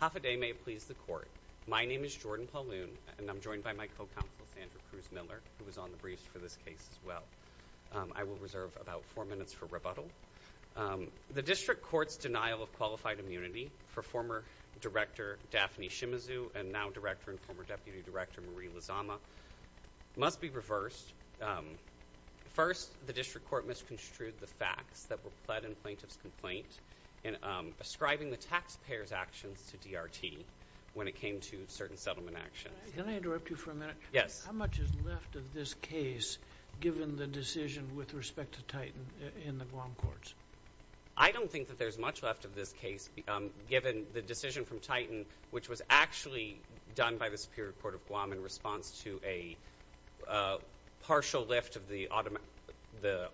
Half a day may please the court. My name is Jordan Pauloon and I'm joined by my co-counsel Sandra Cruz Miller who was on the briefs for this case as well. I will reserve about four minutes for rebuttal. The District Court's denial of qualified immunity for former Director Daphne Shimizu and now Director and former Deputy Director Marie Lizama must be reversed. First, the District Court misconstrued the facts that were pled in plaintiff's complaint in ascribing the taxpayer's actions to DRT when it came to certain settlement actions. Can I interrupt you for a minute? Yes. How much is left of this case given the decision with respect to Titan in the Guam courts? I don't think that there's much left of this case given the decision from Titan which was actually done by the Superior Court of Guam in response to a partial lift of the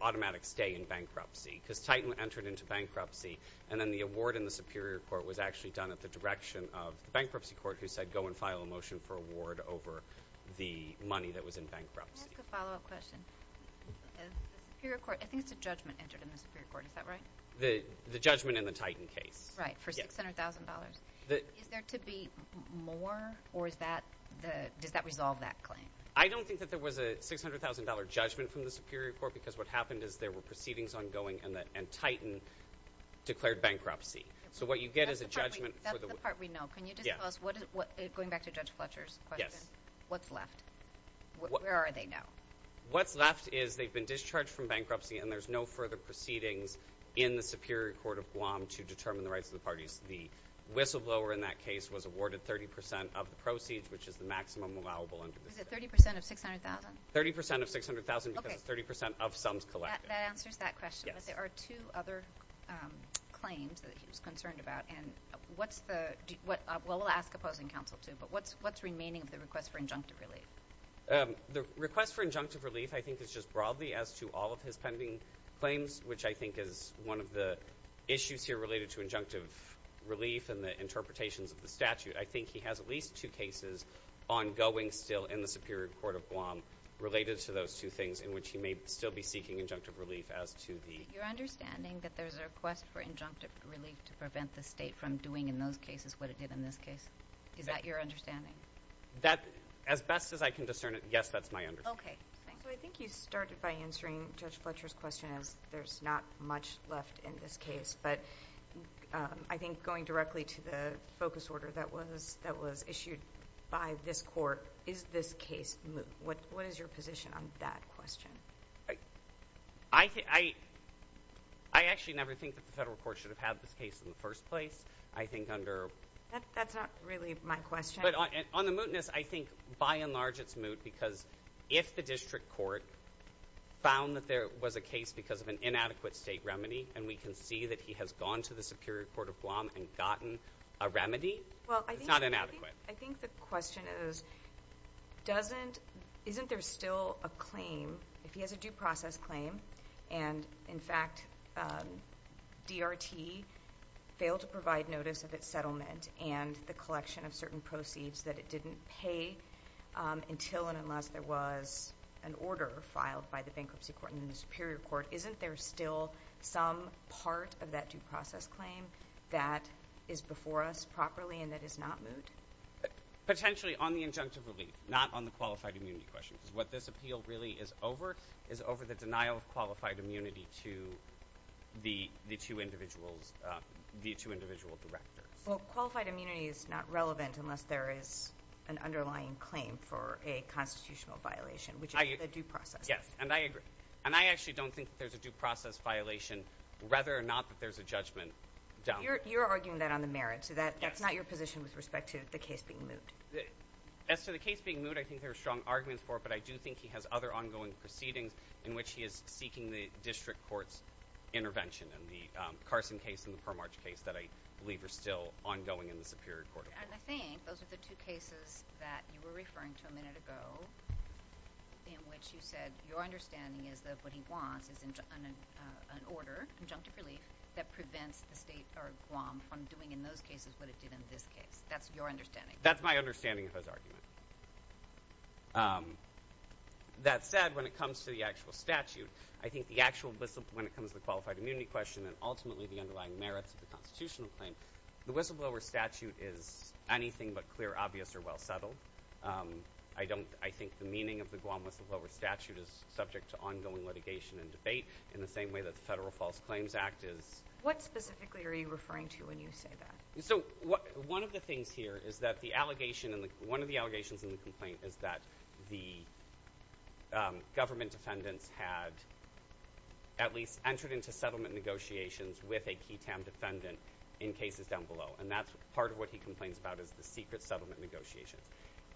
automatic stay in bankruptcy because Titan entered into bankruptcy and then the award in the Superior Court was actually done at the direction of the Bankruptcy Court who said go and file a motion for award over the money that was in bankruptcy. Can I ask a follow-up question? The Superior Court, I think it's a judgment entered in the Superior Court, is that right? The judgment in the Titan case. Right, for $600,000. Is there to be more or is that, does that resolve that claim? I don't think that there was a $600,000 judgment from the Superior Court because what happened is there were proceedings ongoing and Titan declared bankruptcy. So what you get is a judgment. That's the part we know. Can you just tell us, going back to Judge Fletcher's question, what's left? Where are they now? What's left is they've been discharged from bankruptcy and there's no further proceedings in the Superior Court of Guam to determine the rights of the parties. The whistleblower in that case was awarded 30% of the proceeds which is the maximum allowable under the statute. Is it 30% of $600,000? 30% of $600,000 because it's 30% of sums collected. That answers that question. But there are two other claims that he was concerned about and what's the, well we'll ask opposing counsel too, but what's remaining of the request for injunctive relief? The request for injunctive relief I think is just broadly as to all of his pending claims which I think is one of the issues here related to injunctive relief and the interpretations of the statute. I think he has at least two cases ongoing still in the Superior Court of Guam related to those two things in which he may still be seeking injunctive relief as to the... Your understanding that there's a request for injunctive relief to prevent the state from doing in those cases what it did in this case? Is that your understanding? That, as best as I can discern it, yes that's my understanding. I think you started by answering Judge Fletcher's question as there's not much left in this case, but I think going directly to the focus order that was issued by this court, is this case moot? What is your position on that question? I actually never think that the federal court should have had this case in the first place. I think under... That's not really my question. On the mootness, I think by and large it's moot because if the district court found that there was a case because of an inadequate state remedy and we can see that he has gone to the Superior Court of Guam and gotten a remedy, it's not inadequate. I think the question is, isn't there still a claim, if he has a due process claim, and in fact DRT failed to provide notice of its settlement and the collection of certain proceeds that it didn't pay until and unless there was an order filed by the bankruptcy court and the Superior Court, isn't there still some part of that due process claim that is before us properly and that is not moot? Potentially on the injunctive relief, not on the qualified immunity question because what this appeal really is over is over the denial of qualified immunity to the two individuals, the two individual directors. Well, qualified immunity is not relevant unless there is an underlying claim for a constitutional violation, which is a due process. Yes, and I agree. And I actually don't think that there's a due process violation whether or not that there's a judgment done. You're arguing that on the merits, so that's not your position with respect to the case being moot. As to the case being moot, I think there are strong arguments for it, but I do think he has other ongoing proceedings in which he is seeking the district court's intervention in the Carson case and the Per March case that I believe are still ongoing in the Superior Court of Guam. And I think those are the two cases that you were referring to a minute ago in which you said your understanding is that what he wants is an order, injunctive relief, that prevents the state or Guam from doing in those cases what it did in this case. That's your understanding. That's my understanding of his argument. That said, when it comes to the actual statute, I think the actual – when it comes to the qualified immunity question and ultimately the underlying merits of the constitutional claim, the whistleblower statute is anything but clear, obvious, or well settled. I don't – I think the meaning of the Guam whistleblower statute is subject to ongoing litigation and debate in the same way that the Federal False Claims Act is. What specifically are you referring to when you say that? So one of the things here is that the allegation – one of the allegations in the complaint is that the government defendants had at least entered into settlement negotiations with a QITAM defendant in cases down below. And that's part of what he complains about is the secret settlement negotiations.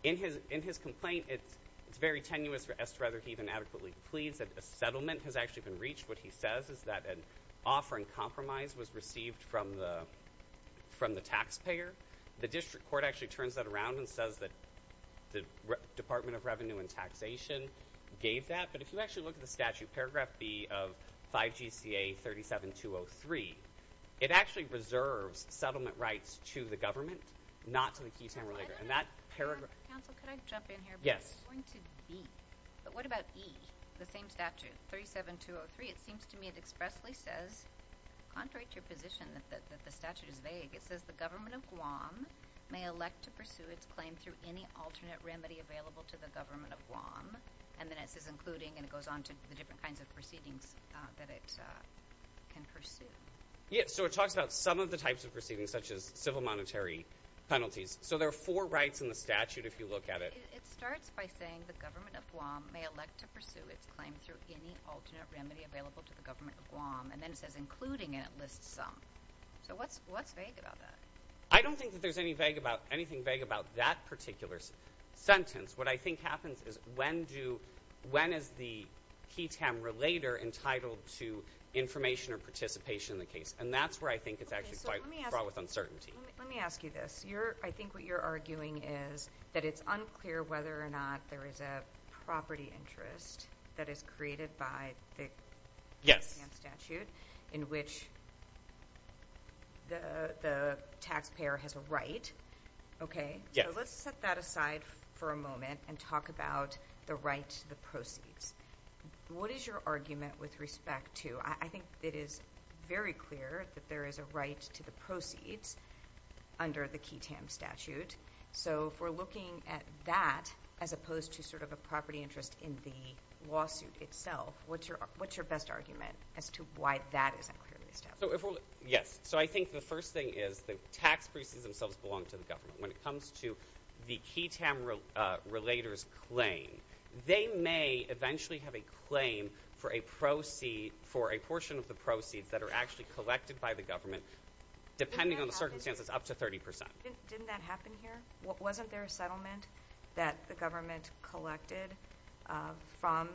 In his complaint, it's very tenuous as to whether he even adequately pleads that a settlement has actually been reached. What he says is that an offer in compromise was received from the taxpayer. The district court actually turns that around and says that the Department of Revenue and Taxation gave that. But if you actually look at the statute, paragraph B of 5GCA 37203, it actually reserves settlement rights to the government, not to the QITAM. And that paragraph – Counsel, could I jump in here? Yes. It's going to be. But what about E, the same statute, 37203? It seems to me it expressly says, contrary to your position that the statute is vague, it says the government of Guam may elect to pursue its claim through any alternate remedy available to the government of Guam. And then it says including, and it goes on to the different kinds of proceedings that it can pursue. Yeah, so it talks about some of the types of proceedings such as civil monetary penalties. So there are four rights in the statute if you look at it. It starts by saying the government of Guam may elect to pursue its claim through any alternate remedy available to the government of Guam. And then it says including, and it lists some. So what's vague about that? I don't think that there's anything vague about that particular sentence. What I think happens is when is the QITAM relator entitled to information or participation in the case? And that's where I think it's actually quite fraught with uncertainty. Let me ask you this. I think what you're arguing is that it's unclear whether or not there is a property interest that is created by the QITAM statute in which the taxpayer has a right, okay? So let's set that aside for a moment and talk about the right to the proceeds. What is your argument with respect to? I think it is very clear that there is a right to the proceeds under the QITAM statute. So if we're looking at that as opposed to sort of a property interest in the lawsuit itself, what's your best argument as to why that isn't clearly established? Yes. So I think the first thing is the tax proceeds themselves belong to the government. When it comes to the QITAM relator's claim, they may eventually have a claim for a portion of the proceeds that are actually collected by the government, depending on the circumstances, up to 30%. Didn't that happen here? Wasn't there a settlement that the government collected from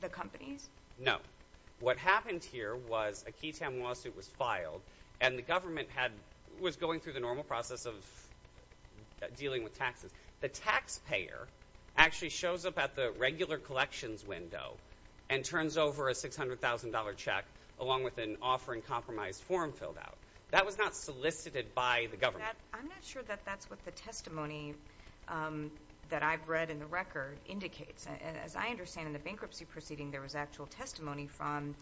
the companies? No. What happened here was a QITAM lawsuit was filed, and the government was going through the normal process of dealing with taxes. The taxpayer actually shows up at the regular collections window and turns over a $600,000 check along with an offering compromise form filled out. That was not solicited by the government. I'm not sure that that's what the testimony that I've read in the record indicates. As I understand, in the bankruptcy proceeding, there was actual testimony from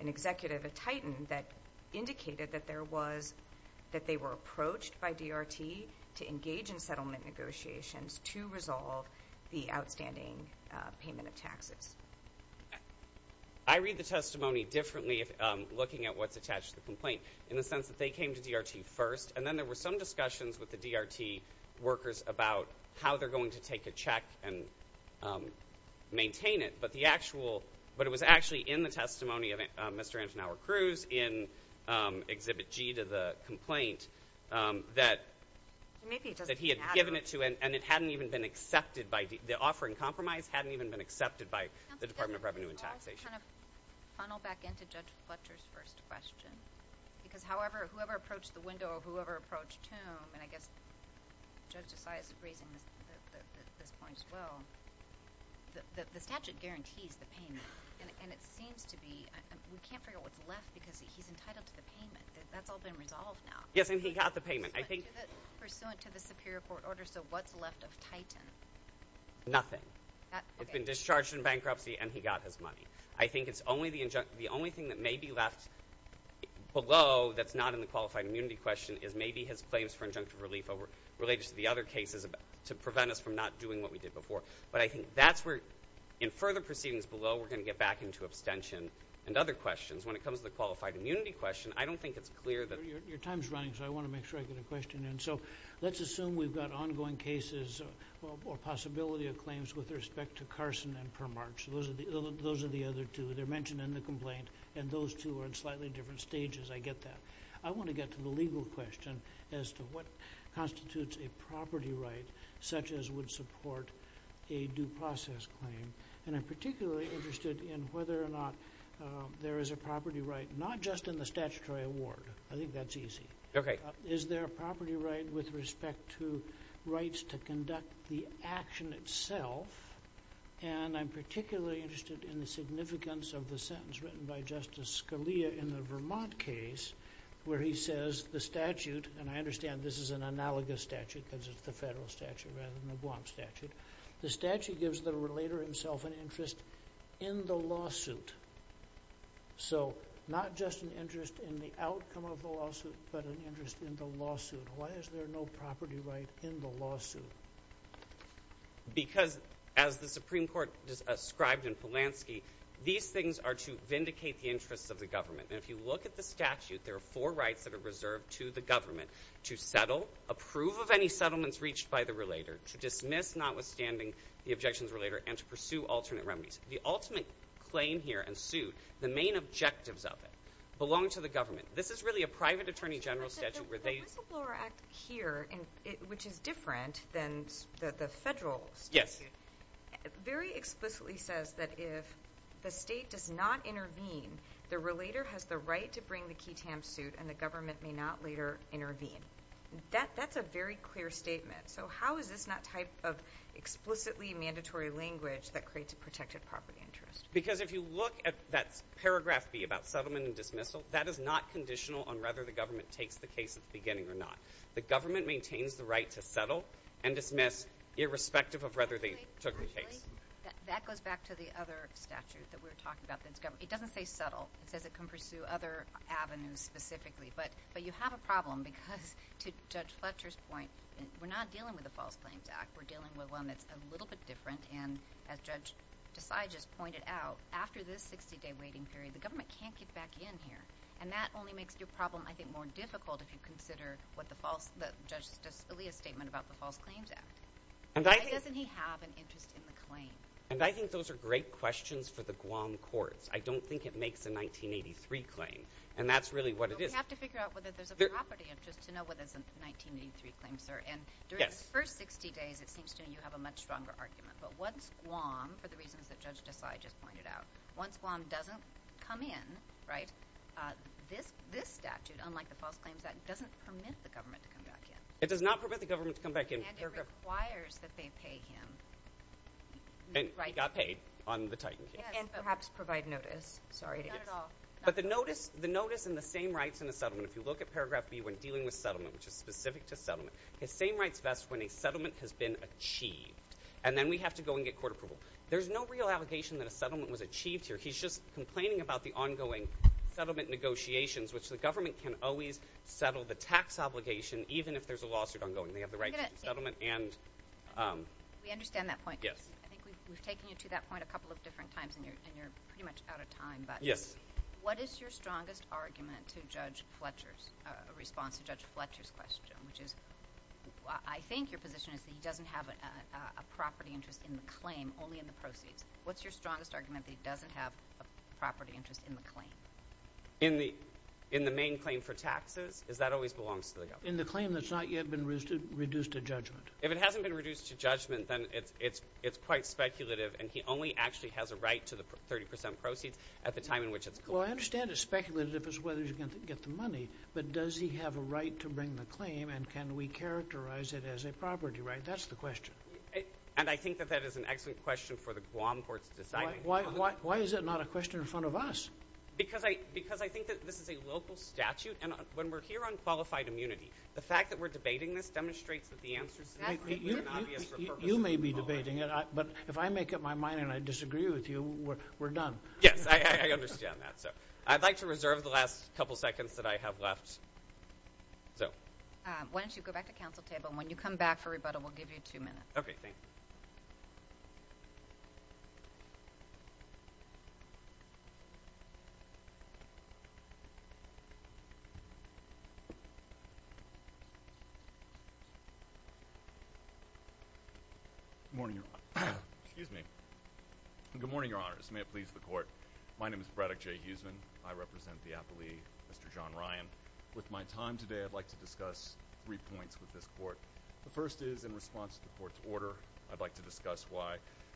an executive at Titan that indicated that they were approached by DRT to engage in settlement negotiations to resolve the outstanding payment of taxes. I read the testimony differently looking at what's attached to the complaint in the sense that they came to DRT first, and then there were some discussions with the DRT workers about how they're going to take a check and maintain it, but it was actually in the testimony of Mr. Anton Howard-Cruz in Exhibit G to the complaint that he had given it to, and the offering compromise hadn't even been accepted by the Department of Revenue and Taxation. Can I just kind of funnel back into Judge Fletcher's first question? Because, however, whoever approached the window or whoever approached Toome, and I guess Judge DeSantis is raising this point as well, the statute guarantees the payment, and it seems to be – we can't figure out what's left because he's entitled to the payment. That's all been resolved now. Yes, and he got the payment. I think – Pursuant to the superior court order, so what's left of Titan? Nothing. It's been discharged in bankruptcy, and he got his money. I think it's only the – the only thing that may be left below that's not in the qualified immunity question is maybe his claims for injunctive relief related to the other cases to prevent us from not doing what we did before. But I think that's where – in further proceedings below, we're going to get back into abstention and other questions. When it comes to the qualified immunity question, I don't think it's clear that – Your time's running, so I want to make sure I get a question in. So let's assume we've got ongoing cases or possibility of claims with respect to Carson and Permarch. Those are the other two. They're mentioned in the complaint, and those two are in slightly different stages. I get that. I want to get to the legal question as to what constitutes a property right such as would support a due process claim. And I'm particularly interested in whether or not there is a property right not just in the statutory award. I think that's easy. Is there a property right with respect to rights to conduct the action itself? And I'm particularly interested in the significance of the sentence written by Justice Scalia in the Vermont case where he says the statute – and I understand this is an analogous statute because it's the federal statute rather than the Guam statute. The statute gives the relator himself an interest in the lawsuit. So not just an interest in the outcome of the lawsuit but an interest in the lawsuit. Why is there no property right in the lawsuit? Because as the Supreme Court described in Polanski, these things are to vindicate the interests of the government. And if you look at the statute, there are four rights that are reserved to the government to settle, approve of any settlements reached by the relator, to dismiss notwithstanding the objections of the relator, and to pursue alternate remedies. The ultimate claim here in suit, the main objectives of it, belong to the government. This is really a private attorney general statute where they – The whistleblower act here, which is different than the federal statute, very explicitly says that if the state does not intervene, the relator has the right to bring the key tam suit and the government may not later intervene. That's a very clear statement. So how is this not type of explicitly mandatory language that creates a protected property interest? Because if you look at that paragraph B about settlement and dismissal, that is not conditional on whether the government takes the case at the beginning or not. The government maintains the right to settle and dismiss irrespective of whether they took the case. Actually, that goes back to the other statute that we were talking about. It doesn't say settle. It says it can pursue other avenues specifically. But you have a problem because, to Judge Fletcher's point, we're not dealing with a false claims act. We're dealing with one that's a little bit different. And as Judge Desai just pointed out, after this 60-day waiting period, the government can't get back in here. And that only makes your problem, I think, more difficult if you consider what the false – the Judge's earlier statement about the false claims act. Why doesn't he have an interest in the claim? And I think those are great questions for the Guam courts. I don't think it makes a 1983 claim, and that's really what it is. You have to figure out whether there's a property interest to know whether it's a 1983 claim, sir. And during the first 60 days, it seems to me you have a much stronger argument. But once Guam, for the reasons that Judge Desai just pointed out, once Guam doesn't come in, right, this statute, unlike the false claims act, doesn't permit the government to come back in. It does not permit the government to come back in. And it requires that they pay him. He got paid on the Titan case. And perhaps provide notice. Sorry, it is. Not at all. But the notice and the same rights in the settlement, if you look at Paragraph B, when dealing with settlement, which is specific to settlement, his same rights vest when a settlement has been achieved. And then we have to go and get court approval. There's no real allegation that a settlement was achieved here. He's just complaining about the ongoing settlement negotiations, which the government can always settle the tax obligation even if there's a lawsuit ongoing. They have the right to settlement and – We understand that point. Yes. I think we've taken you to that point a couple of different times, and you're pretty much out of time. Yes. What is your strongest argument to Judge Fletcher's response to Judge Fletcher's question, which is I think your position is that he doesn't have a property interest in the claim, only in the proceeds. What's your strongest argument that he doesn't have a property interest in the claim? In the main claim for taxes? Because that always belongs to the government. In the claim that's not yet been reduced to judgment. If it hasn't been reduced to judgment, then it's quite speculative, and he only actually has a right to the 30 percent proceeds at the time in which it's collected. Well, I understand it's speculative as to whether he's going to get the money, but does he have a right to bring the claim, and can we characterize it as a property right? That's the question. And I think that that is an excellent question for the Guam courts to decide on. Why is it not a question in front of us? Because I think that this is a local statute, and when we're here on qualified immunity, the fact that we're debating this demonstrates that the answer is significant and obvious for purposes of the law. You may be debating it, but if I make up my mind and I disagree with you, we're done. Yes, I understand that. I'd like to reserve the last couple seconds that I have left. Why don't you go back to council table, and when you come back for rebuttal, we'll give you two minutes. Okay, thanks. Good morning, Your Honor. Excuse me. Good morning, Your Honors. May it please the Court. My name is Braddock J. Huesman. I represent the applee, Mr. John Ryan. With my time today, I'd like to discuss three points with this Court. The first is in response to the Court's order, I'd like to discuss why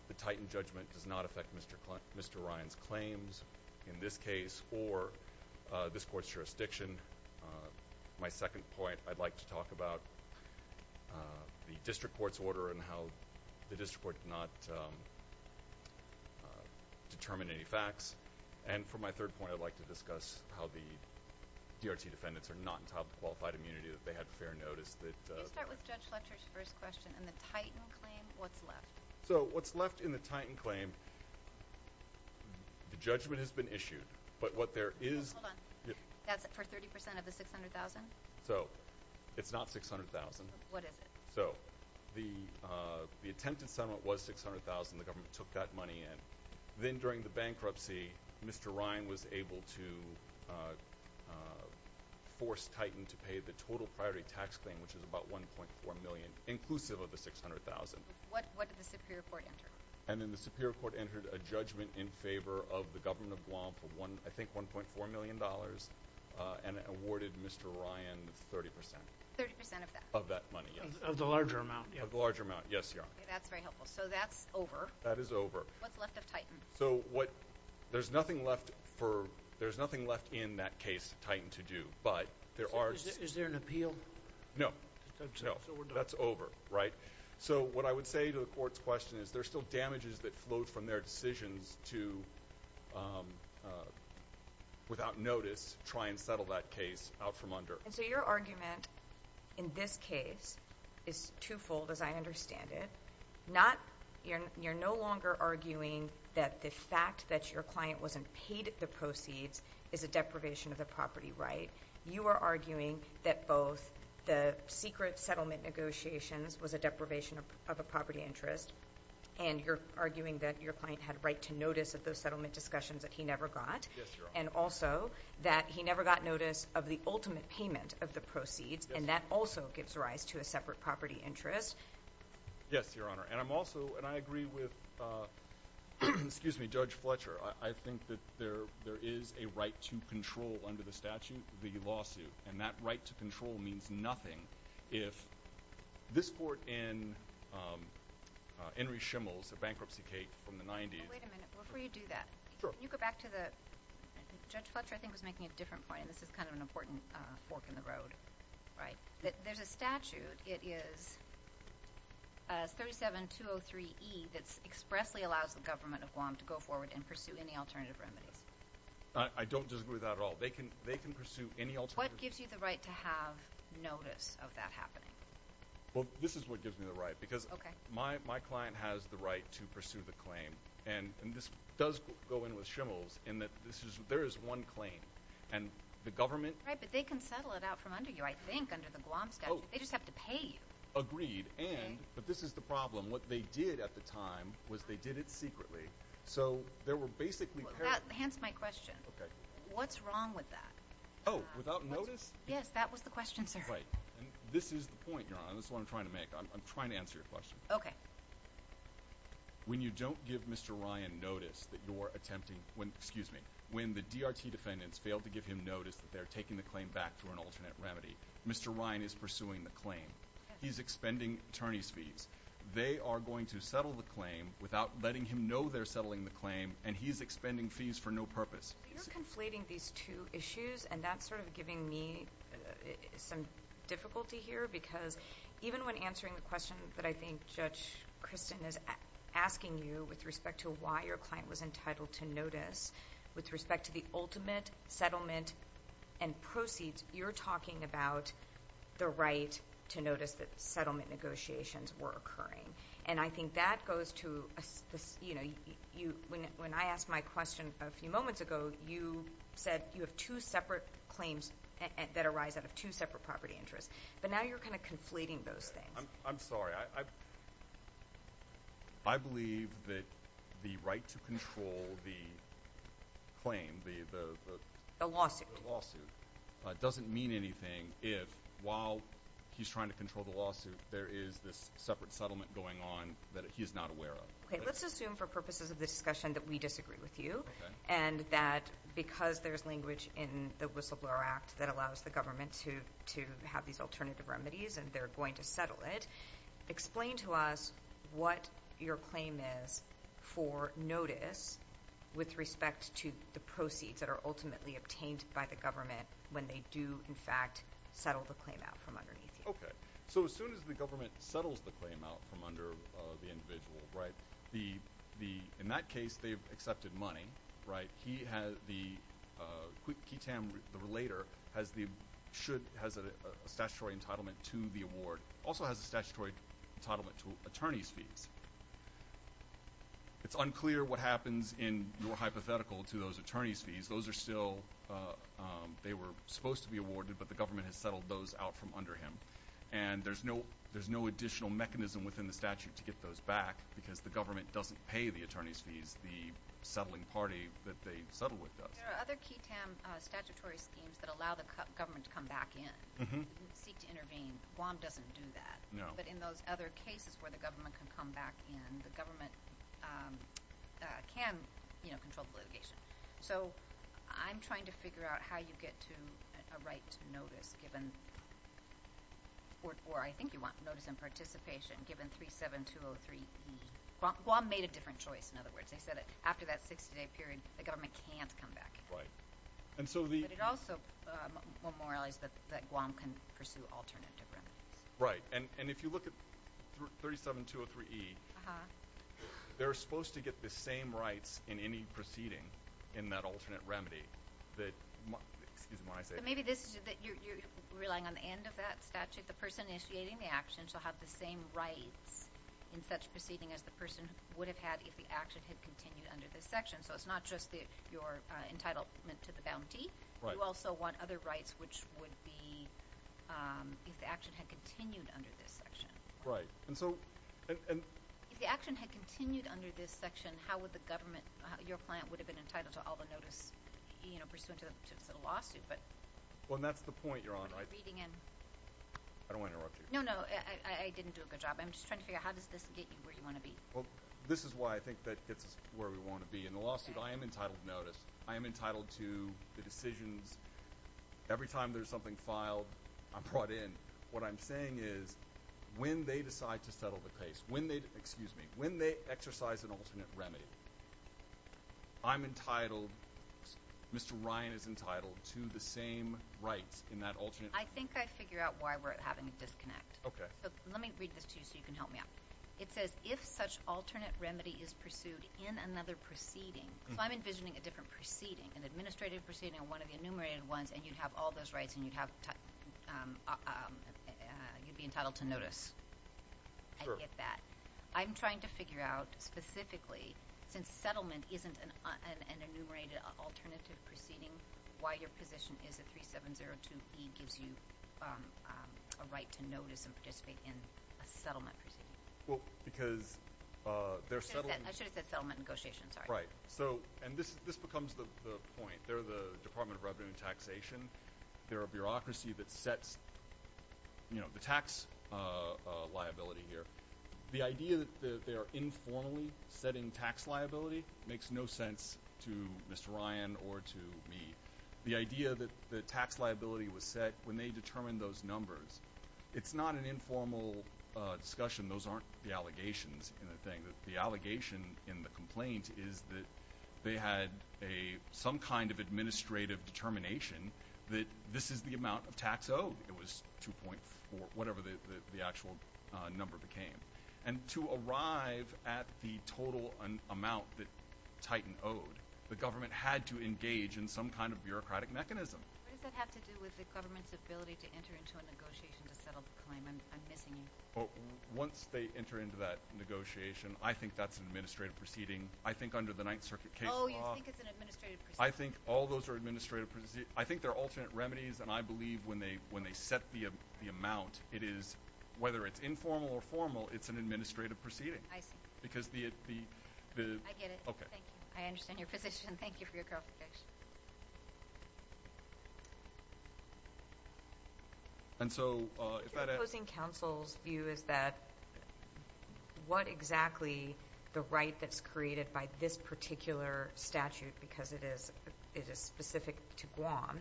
the Titan judgment does not affect Mr. Ryan's claims, in this case, or this Court's jurisdiction. My second point, I'd like to talk about the District Court's order and how the District Court did not determine any facts. And for my third point, I'd like to discuss how the DRT defendants are not entitled to qualified immunity, that they had fair notice. You start with Judge Fletcher's first question. In the Titan claim, what's left? So what's left in the Titan claim, the judgment has been issued, but what there is— That's for 30 percent of the $600,000? So it's not $600,000. What is it? So the attempted settlement was $600,000. The government took that money in. Then during the bankruptcy, Mr. Ryan was able to force Titan to pay the total priority tax claim, which is about $1.4 million, inclusive of the $600,000. What did the Superior Court enter? And then the Superior Court entered a judgment in favor of the government of Guam for, I think, $1.4 million, and awarded Mr. Ryan 30 percent. 30 percent of that? Of that money, yes. Of the larger amount, yeah. Of the larger amount, yes, Your Honor. That's very helpful. So that's over. That is over. What's left of Titan? So there's nothing left in that case, Titan, to do, but there are— Is there an appeal? No. No, that's over, right? So what I would say to the Court's question is there's still damages that flowed from their decisions to, without notice, try and settle that case out from under. So your argument in this case is twofold, as I understand it. You're no longer arguing that the fact that your client wasn't paid the proceeds is a deprivation of the property right. You are arguing that both the secret settlement negotiations was a deprivation of a property interest, and you're arguing that your client had right to notice of those settlement discussions that he never got. Yes, Your Honor. And also that he never got notice of the ultimate payment of the proceeds, and that also gives rise to a separate property interest. Yes, Your Honor. And I'm also—and I agree with Judge Fletcher. I think that there is a right to control under the statute, the lawsuit, and that right to control means nothing if this court in Henry Schimel's bankruptcy case from the 90s— Wait a minute. Before you do that, can you go back to the— Judge Fletcher, I think, was making a different point, and this is kind of an important fork in the road, right? There's a statute. It is 37203E that expressly allows the government of Guam to go forward and pursue any alternative remedies. I don't disagree with that at all. They can pursue any alternative— What gives you the right to have notice of that happening? Well, this is what gives me the right, because my client has the right to pursue the claim, and this does go in with Schimel's in that there is one claim, and the government— Oh. They just have to pay you. Agreed. And—but this is the problem. What they did at the time was they did it secretly. So there were basically— Well, that—hence my question. Okay. What's wrong with that? Oh, without notice? Yes, that was the question, sir. Right. And this is the point, Your Honor, and this is what I'm trying to make. I'm trying to answer your question. Okay. When you don't give Mr. Ryan notice that you're attempting— when—excuse me. When the DRT defendants fail to give him notice that they're taking the claim back through an alternate remedy, Mr. Ryan is pursuing the claim. He's expending attorneys' fees. They are going to settle the claim without letting him know they're settling the claim, and he's expending fees for no purpose. You're conflating these two issues, and that's sort of giving me some difficulty here, because even when answering the question that I think Judge Kristen is asking you with respect to why your client was entitled to notice, with respect to the ultimate settlement and proceeds, you're talking about the right to notice that settlement negotiations were occurring. And I think that goes to—you know, when I asked my question a few moments ago, you said you have two separate claims that arise out of two separate property interests. But now you're kind of conflating those things. I'm sorry. I believe that the right to control the claim, the— The lawsuit. The lawsuit doesn't mean anything if, while he's trying to control the lawsuit, there is this separate settlement going on that he's not aware of. Okay, let's assume for purposes of the discussion that we disagree with you, and that because there's language in the Whistleblower Act that allows the government to have these alternative remedies and they're going to settle it, explain to us what your claim is for notice with respect to the proceeds that are ultimately obtained by the government when they do, in fact, settle the claim out from underneath you. Okay. So as soon as the government settles the claim out from under the individual, right, in that case they've accepted money, right? It has a statutory entitlement to the award. It also has a statutory entitlement to attorney's fees. It's unclear what happens in your hypothetical to those attorney's fees. Those are still—they were supposed to be awarded, but the government has settled those out from under him. And there's no additional mechanism within the statute to get those back because the government doesn't pay the attorney's fees. The settling party that they settled with does. There are other QITAM statutory schemes that allow the government to come back in and seek to intervene. Guam doesn't do that. No. But in those other cases where the government can come back in, the government can control litigation. So I'm trying to figure out how you get to a right to notice given—or I think you want notice in participation given 37203E. Guam made a different choice, in other words. They said after that 60-day period, the government can't come back in. But it also memorialized that Guam can pursue alternative remedies. Right. And if you look at 37203E, they're supposed to get the same rights in any proceeding in that alternate remedy that— excuse me when I say that. Maybe this is that you're relying on the end of that statute. If the person initiating the action shall have the same rights in such proceeding as the person would have had if the action had continued under this section. So it's not just your entitlement to the bounty. Right. You also want other rights, which would be if the action had continued under this section. Right. And so— If the action had continued under this section, how would the government— your client would have been entitled to all the notice pursuant to the lawsuit. Well, and that's the point you're on, right? I don't want to interrupt you. No, no. I didn't do a good job. I'm just trying to figure out how does this get you where you want to be. Well, this is why I think that gets us where we want to be. In the lawsuit, I am entitled to notice. I am entitled to the decisions. Every time there's something filed, I'm brought in. What I'm saying is when they decide to settle the case, when they— excuse me, when they exercise an alternate remedy, I'm entitled, Mr. Ryan is entitled to the same rights in that alternate remedy. I think I figure out why we're having a disconnect. Let me read this to you so you can help me out. It says, if such alternate remedy is pursued in another proceeding— so I'm envisioning a different proceeding, an administrative proceeding or one of the enumerated ones, and you'd have all those rights and you'd be entitled to notice. Sure. I get that. I'm trying to figure out specifically, since settlement isn't an enumerated alternative proceeding, why your position is that 3702E gives you a right to notice and participate in a settlement proceeding. Well, because they're settling— I should have said settlement negotiations, sorry. Right. And this becomes the point. They're the Department of Revenue and Taxation. They're a bureaucracy that sets the tax liability here. The idea that they're informally setting tax liability makes no sense to Mr. Ryan or to me. The idea that the tax liability was set when they determined those numbers, it's not an informal discussion. Those aren't the allegations in the thing. The allegation in the complaint is that they had some kind of administrative determination that this is the amount of tax owed. It was 2.4, whatever the actual number became. And to arrive at the total amount that Titan owed, the government had to engage in some kind of bureaucratic mechanism. What does that have to do with the government's ability to enter into a negotiation to settle the claim? I'm missing you. Once they enter into that negotiation, I think that's an administrative proceeding. I think under the Ninth Circuit case law— Oh, you think it's an administrative proceeding. I think all those are administrative proceedings. I think they're alternate remedies, and I believe when they set the amount, whether it's informal or formal, it's an administrative proceeding. I see. Because the— I get it. Thank you. I understand your position. Thank you for your clarification. And so if that— I think the opposing counsel's view is that what exactly the right that's created by this particular statute, because it is specific to Guam,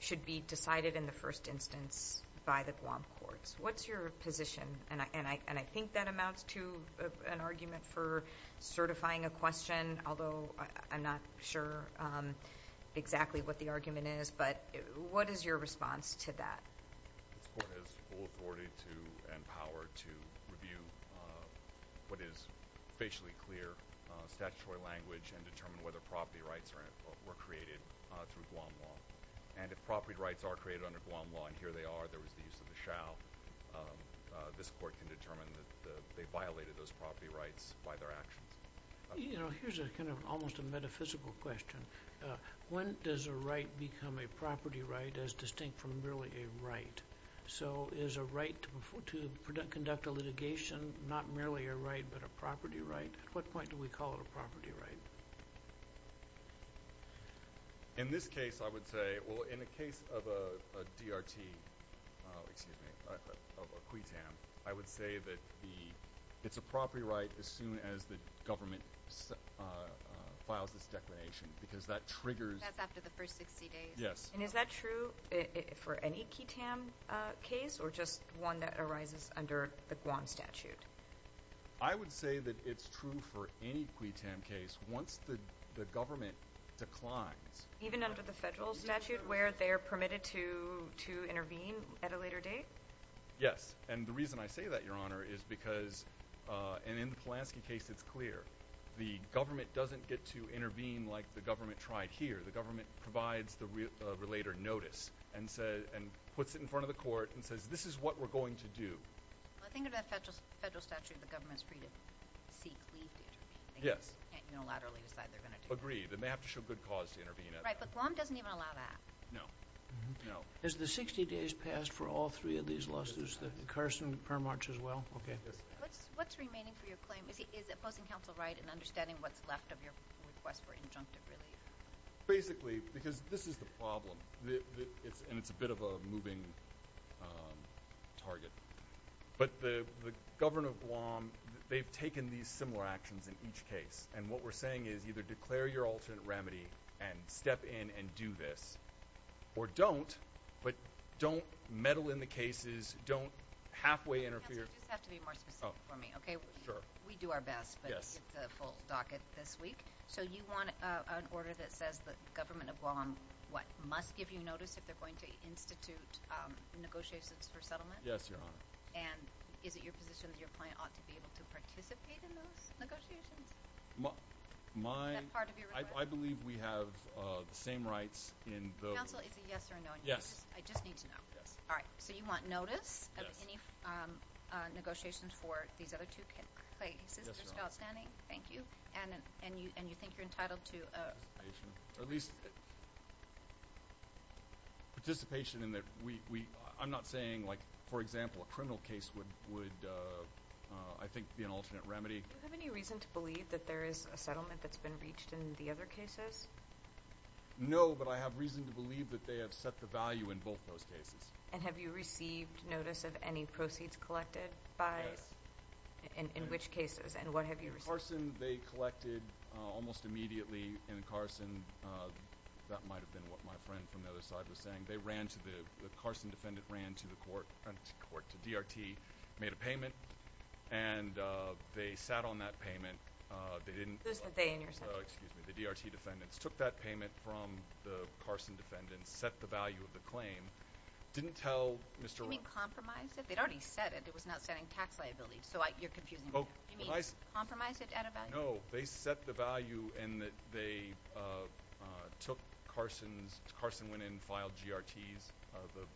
should be decided in the first instance by the Guam courts. What's your position? And I think that amounts to an argument for certifying a question, although I'm not sure. I'm not sure exactly what the argument is, but what is your response to that? This court has full authority to and power to review what is facially clear statutory language and determine whether property rights were created through Guam law. And if property rights are created under Guam law, and here they are, there was the use of the shal, this court can determine that they violated those property rights by their actions. You know, here's kind of almost a metaphysical question. When does a right become a property right as distinct from merely a right? So is a right to conduct a litigation not merely a right but a property right? At what point do we call it a property right? In this case, I would say—well, in the case of a DRT—excuse me, of a Cuitam, I would say that it's a property right as soon as the government files this declination because that triggers— That's after the first 60 days. Yes. And is that true for any Cuitam case or just one that arises under the Guam statute? I would say that it's true for any Cuitam case once the government declines. Even under the federal statute where they're permitted to intervene at a later date? Yes. And the reason I say that, Your Honor, is because—and in the Polanski case it's clear— the government doesn't get to intervene like the government tried here. The government provides the relator notice and puts it in front of the court and says, this is what we're going to do. Well, I think under the federal statute the government's free to seek leave to intervene. Yes. They can't unilaterally decide they're going to do it. Agreed. They may have to show good cause to intervene at that. Right, but Guam doesn't even allow that. No. No. Has the 60 days passed for all three of these lawsuits, the Carson, Permarch, as well? Okay. What's remaining for your claim? Is opposing counsel right in understanding what's left of your request for injunctive relief? Basically, because this is the problem, and it's a bit of a moving target. But the governor of Guam, they've taken these similar actions in each case, and what we're saying is either declare your alternate remedy and step in and do this, or don't, but don't meddle in the cases, don't halfway interfere. Counsel, you just have to be more specific for me, okay? Sure. We do our best, but it's a full docket this week. So you want an order that says the government of Guam, what, must give you notice if they're going to institute negotiations for settlement? Yes, Your Honor. And is it your position that your client ought to be able to participate in those negotiations? Is that part of your request? I believe we have the same rights in those. Counsel, it's a yes or a no. Yes. I just need to know. Yes. All right. So you want notice of any negotiations for these other two cases? Yes, Your Honor. Outstanding. Thank you. And you think you're entitled to a participation? Or at least participation in that we – I'm not saying, like, for example, a criminal case would, I think, be an alternate remedy. Do you have any reason to believe that there is a settlement that's been reached in the other cases? No, but I have reason to believe that they have set the value in both those cases. And have you received notice of any proceeds collected by – Yes. In which cases? And what have you received? In Carson, they collected almost immediately in Carson. That might have been what my friend from the other side was saying. They ran to the – the Carson defendant ran to the court – to DRT, made a payment, and they sat on that payment. They didn't – Who's the they in your sentence? Oh, excuse me. The DRT defendants took that payment from the Carson defendants, set the value of the claim, didn't tell Mr. – You mean compromise it? They'd already said it. It was not setting tax liabilities. So you're confusing me. You mean compromise it at a value? No. They set the value in that they took Carson's – Carson went in and filed GRTs,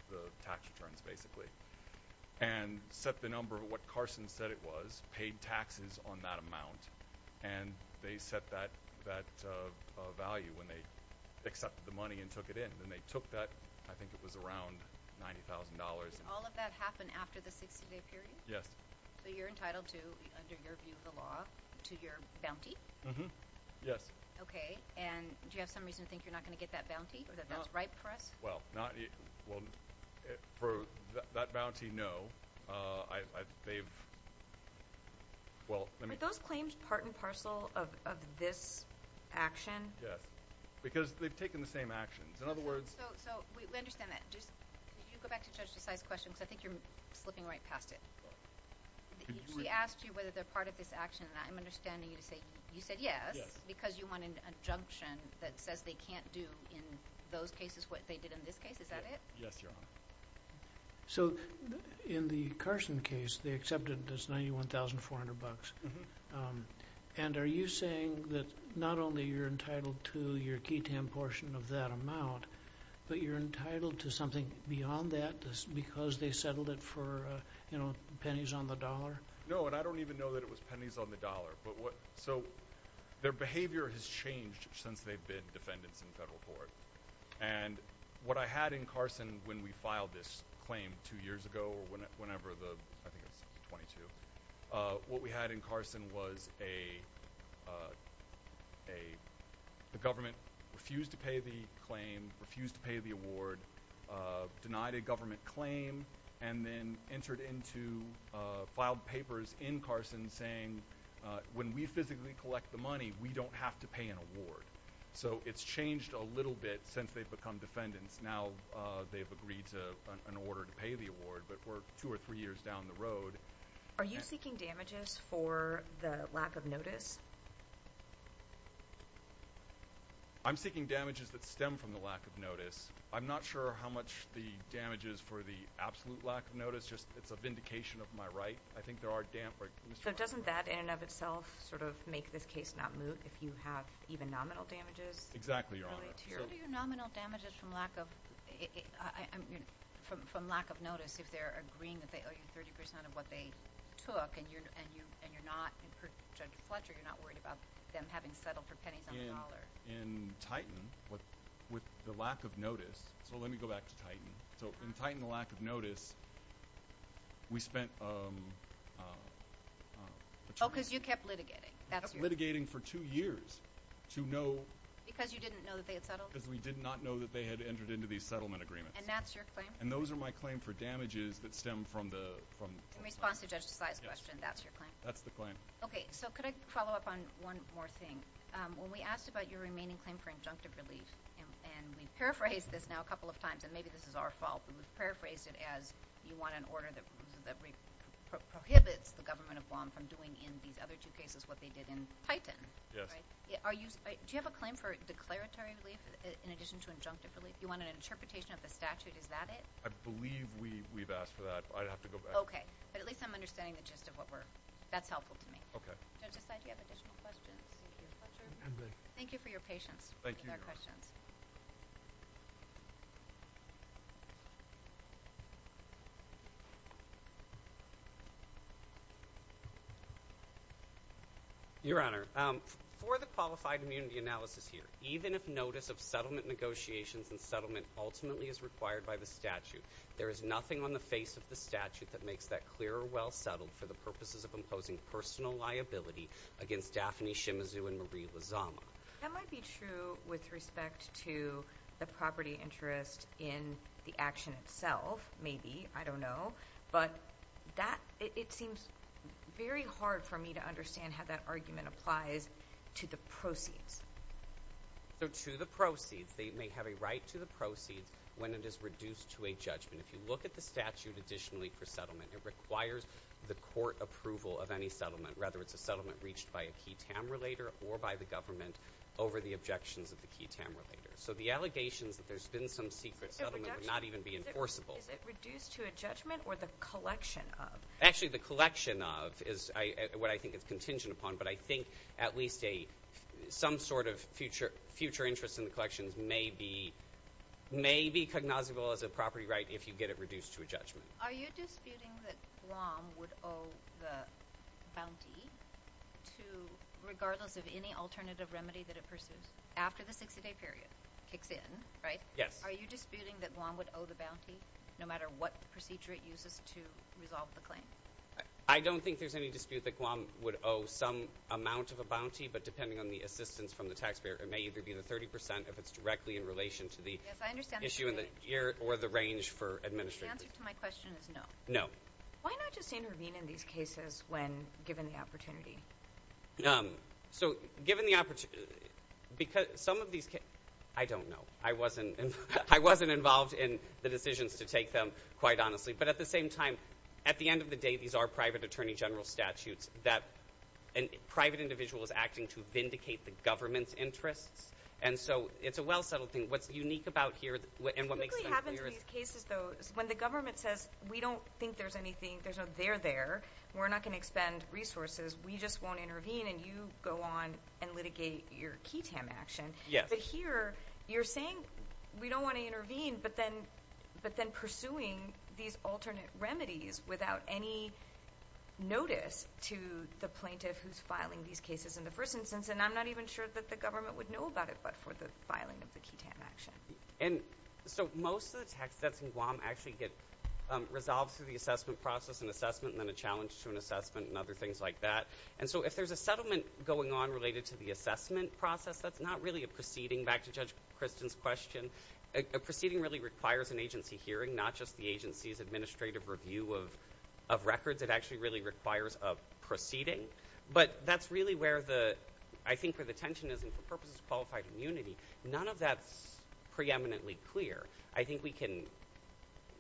the tax returns, basically, and set the number of what Carson said it was, paid taxes on that amount, and they set that value when they accepted the money and took it in. And they took that – I think it was around $90,000. Did all of that happen after the 60-day period? Yes. So you're entitled to, under your view of the law, to your bounty? Yes. Okay. And do you have some reason to think you're not going to get that bounty or that that's ripe for us? Well, not – well, for that bounty, no. They've – well, let me – Are those claims part and parcel of this action? Yes. Because they've taken the same actions. In other words – So we understand that. Just – can you go back to Judge Desai's question? Because I think you're slipping right past it. She asked you whether they're part of this action, and I'm understanding you to say – you said yes. Yes. So it's because you want an injunction that says they can't do in those cases what they did in this case? Is that it? Yes, Your Honor. So in the Carson case, they accepted this $91,400. Mm-hmm. And are you saying that not only you're entitled to your ketamine portion of that amount, but you're entitled to something beyond that because they settled it for pennies on the dollar? No, and I don't even know that it was pennies on the dollar. So their behavior has changed since they've been defendants in federal court. And what I had in Carson when we filed this claim two years ago, whenever the – I think it was 22. What we had in Carson was a government refused to pay the claim, refused to pay the award, denied a government claim, and then entered into – filed papers in Carson saying, when we physically collect the money, we don't have to pay an award. So it's changed a little bit since they've become defendants. Now they've agreed to an order to pay the award, but we're two or three years down the road. Are you seeking damages for the lack of notice? I'm seeking damages that stem from the lack of notice. I'm not sure how much the damage is for the absolute lack of notice. It's a vindication of my right. I think there are – So doesn't that in and of itself sort of make this case not moot if you have even nominal damages? Exactly, Your Honor. So do your nominal damages from lack of notice, if they're agreeing that they owe you 30% of what they took and you're not – Judge Fletcher, you're not worried about them having settled for pennies on the dollar? In fact, in Titan, with the lack of notice – so let me go back to Titan. So in Titan, the lack of notice, we spent – Oh, because you kept litigating. We kept litigating for two years to know – Because you didn't know that they had settled? Because we did not know that they had entered into these settlement agreements. And that's your claim? And those are my claim for damages that stem from the claim. In response to Judge Desai's question, that's your claim? That's the claim. Okay, so could I follow up on one more thing? When we asked about your remaining claim for injunctive relief, and we've paraphrased this now a couple of times, and maybe this is our fault, but we've paraphrased it as you want an order that prohibits the government of Guam from doing in these other two cases what they did in Titan. Yes. Do you have a claim for declaratory relief in addition to injunctive relief? You want an interpretation of the statute. Is that it? I believe we've asked for that. I'd have to go back. Okay. But at least I'm understanding the gist of what we're – that's helpful to me. Okay. Judge Desai, do you have additional questions? Thank you for your patience with our questions. Thank you, Your Honor. Your Honor, for the qualified immunity analysis here, even if notice of settlement negotiations and settlement ultimately is required by the statute, there is nothing on the face of the statute that makes that clear or well settled for the purposes of imposing personal liability against Daphne Shimizu and Marie Lozama. That might be true with respect to the property interest in the action itself, maybe. I don't know. But that – it seems very hard for me to understand how that argument applies to the proceeds. So to the proceeds. They may have a right to the proceeds when it is reduced to a judgment. If you look at the statute additionally for settlement, it requires the court approval of any settlement, whether it's a settlement reached by a key TAM relater or by the government over the objections of the key TAM relater. So the allegations that there's been some secret settlement would not even be enforceable. Is it reduced to a judgment or the collection of? Actually, the collection of is what I think is contingent upon, but I think at least a – some sort of future interest in the collections may be – if you get it reduced to a judgment. Are you disputing that Guam would owe the bounty to – regardless of any alternative remedy that it pursues after the 60-day period kicks in, right? Yes. Are you disputing that Guam would owe the bounty no matter what procedure it uses to resolve the claim? I don't think there's any dispute that Guam would owe some amount of a bounty, but depending on the assistance from the taxpayer, it may either be the 30 percent if it's directly in relation to the issue or the range for administration. The answer to my question is no. No. Why not just intervene in these cases when given the opportunity? So given the – because some of these – I don't know. I wasn't involved in the decisions to take them, quite honestly. But at the same time, at the end of the day, these are private attorney general statutes that a private individual is acting to vindicate the government's interests. And so it's a well-settled thing. What's unique about here and what makes sense here is – What typically happens in these cases, though, is when the government says, we don't think there's anything, there's no – they're there, we're not going to expend resources, we just won't intervene, and you go on and litigate your QITAM action. Yes. But here you're saying we don't want to intervene, but then pursuing these alternate remedies without any notice to the plaintiff who's filing these cases in the first instance, and I'm not even sure that the government would know about it but for the filing of the QITAM action. And so most of the tax debts in Guam actually get resolved through the assessment process and assessment and then a challenge to an assessment and other things like that. And so if there's a settlement going on related to the assessment process, that's not really a proceeding. Going back to Judge Kristen's question, a proceeding really requires an agency hearing, not just the agency's administrative review of records. It actually really requires a proceeding. But that's really where the – I think where the tension is, and for purposes of qualified immunity, none of that's preeminently clear. I think we can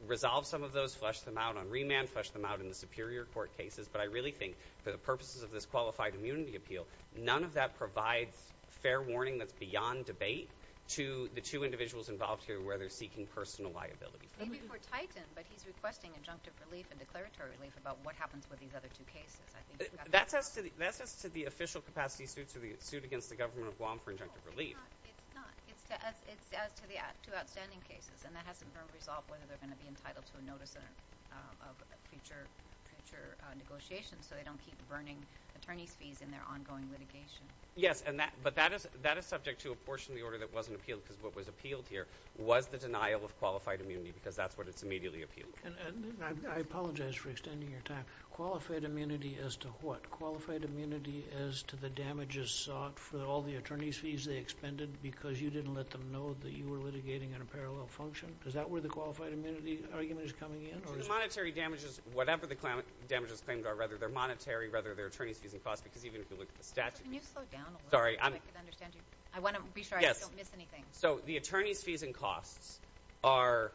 resolve some of those, flesh them out on remand, flesh them out in the superior court cases, but I really think for the purposes of this qualified immunity appeal, none of that provides fair warning that's beyond debate to the two individuals involved here where they're seeking personal liability. Maybe for Titan, but he's requesting injunctive relief and declaratory relief about what happens with these other two cases. That's as to the official capacity suit against the government of Guam for injunctive relief. No, it's not. It's as to the two outstanding cases, and that has to resolve whether they're going to be entitled to a notice of future negotiations so they don't keep burning attorneys' fees in their ongoing litigation. Yes, but that is subject to a portion of the order that wasn't appealed because what was appealed here was the denial of qualified immunity because that's what it's immediately appealed for. I apologize for extending your time. Qualified immunity as to what? Qualified immunity as to the damages sought for all the attorneys' fees they expended because you didn't let them know that you were litigating in a parallel function? Is that where the qualified immunity argument is coming in? The monetary damages, whatever the damages claimed are, whether they're monetary, whether they're attorneys' fees and costs, because even if you look at the statute... Can you slow down a little bit so I can understand you? I want to be sure I don't miss anything. So the attorneys' fees and costs are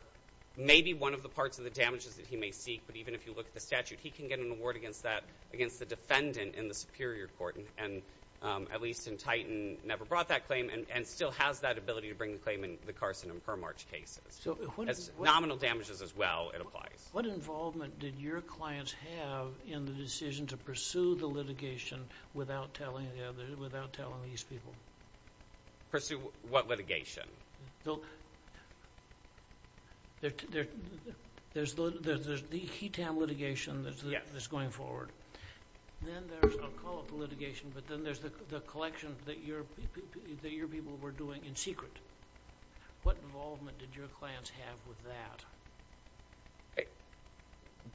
maybe one of the parts of the damages that he may seek, but even if you look at the statute, he can get an award against that, against the defendant in the Superior Court, and at least in Titan never brought that claim and still has that ability to bring the claim in the Carson and Permarch cases. As nominal damages as well, it applies. What involvement did your clients have in the decision to pursue the litigation without telling these people? Pursue what litigation? There's the He-Tam litigation that's going forward. Then there's, I'll call it the litigation, but then there's the collection that your people were doing in secret. What involvement did your clients have with that?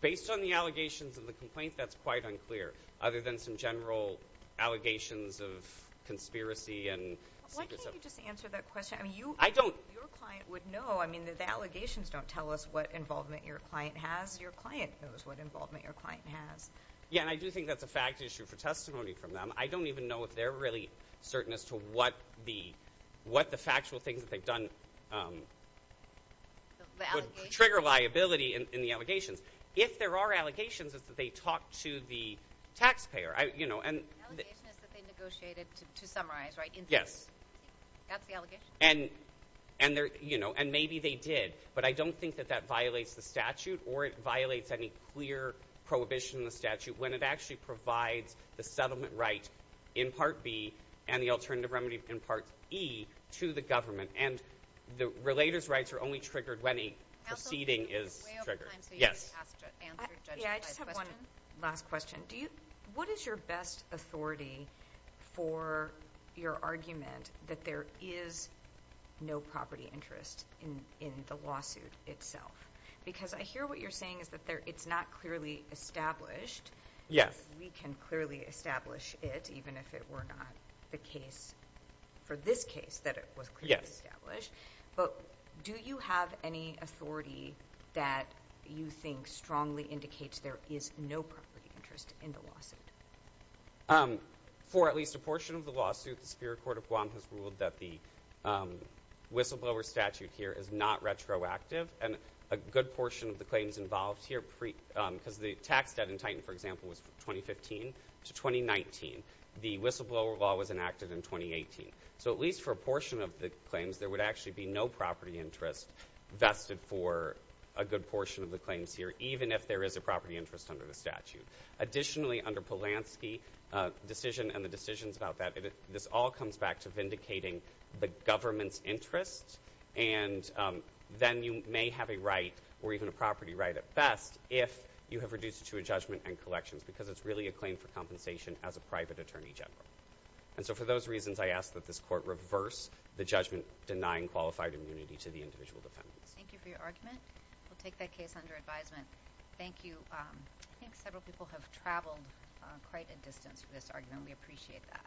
Based on the allegations of the complaint, that's quite unclear, other than some general allegations of conspiracy and secrets of... Why can't you just answer that question? I don't... Your client would know. I mean, the allegations don't tell us what involvement your client has. Your client knows what involvement your client has. Yeah, and I do think that's a fact issue for testimony from them. I don't even know if they're really certain as to what the factual things that they've done... The allegations?... would trigger liability in the allegations. If there are allegations, it's that they talked to the taxpayer. The allegation is that they negotiated to summarize, right? Yes. That's the allegation? And maybe they did, but I don't think that that violates the statute or it violates any clear prohibition in the statute when it actually provides the settlement right in Part B and the alternative remedy in Part E to the government. And the relator's rights are only triggered when a proceeding is triggered. Counsel, this is way over time, so you need to answer the judge's last question. Yeah, I just have one last question. Do you... What is your best authority for your argument that there is no property interest in the lawsuit itself? Because I hear what you're saying is that it's not clearly established. Yes. We can clearly establish it, even if it were not the case for this case that it was clearly established. But, do you have any authority that you think strongly indicates there is no property interest in the lawsuit? For at least a portion of the lawsuit, the Superior Court of Guam has ruled that the whistleblower statute here is not retroactive. And a good portion of the claims involved here, because the tax debt in Titan, for example, was from 2015 to 2019. The whistleblower law was enacted in 2018. So, at least for a portion of the claims, there would actually be no property interest vested for a good portion of the claims here, even if there is a property interest under the statute. Additionally, under Polanski's decision and the decisions about that, this all comes back to vindicating the government's interest. And then you may have a right, or even a property right at best, if you have reduced it to a judgment and collections, because it's really a claim for compensation as a private attorney general. And so, for those reasons, I ask that this court reverse the judgment denying qualified immunity to the individual defendants. Thank you for your argument. We'll take that case under advisement. Thank you. I think several people have traveled quite a distance for this argument. We appreciate that.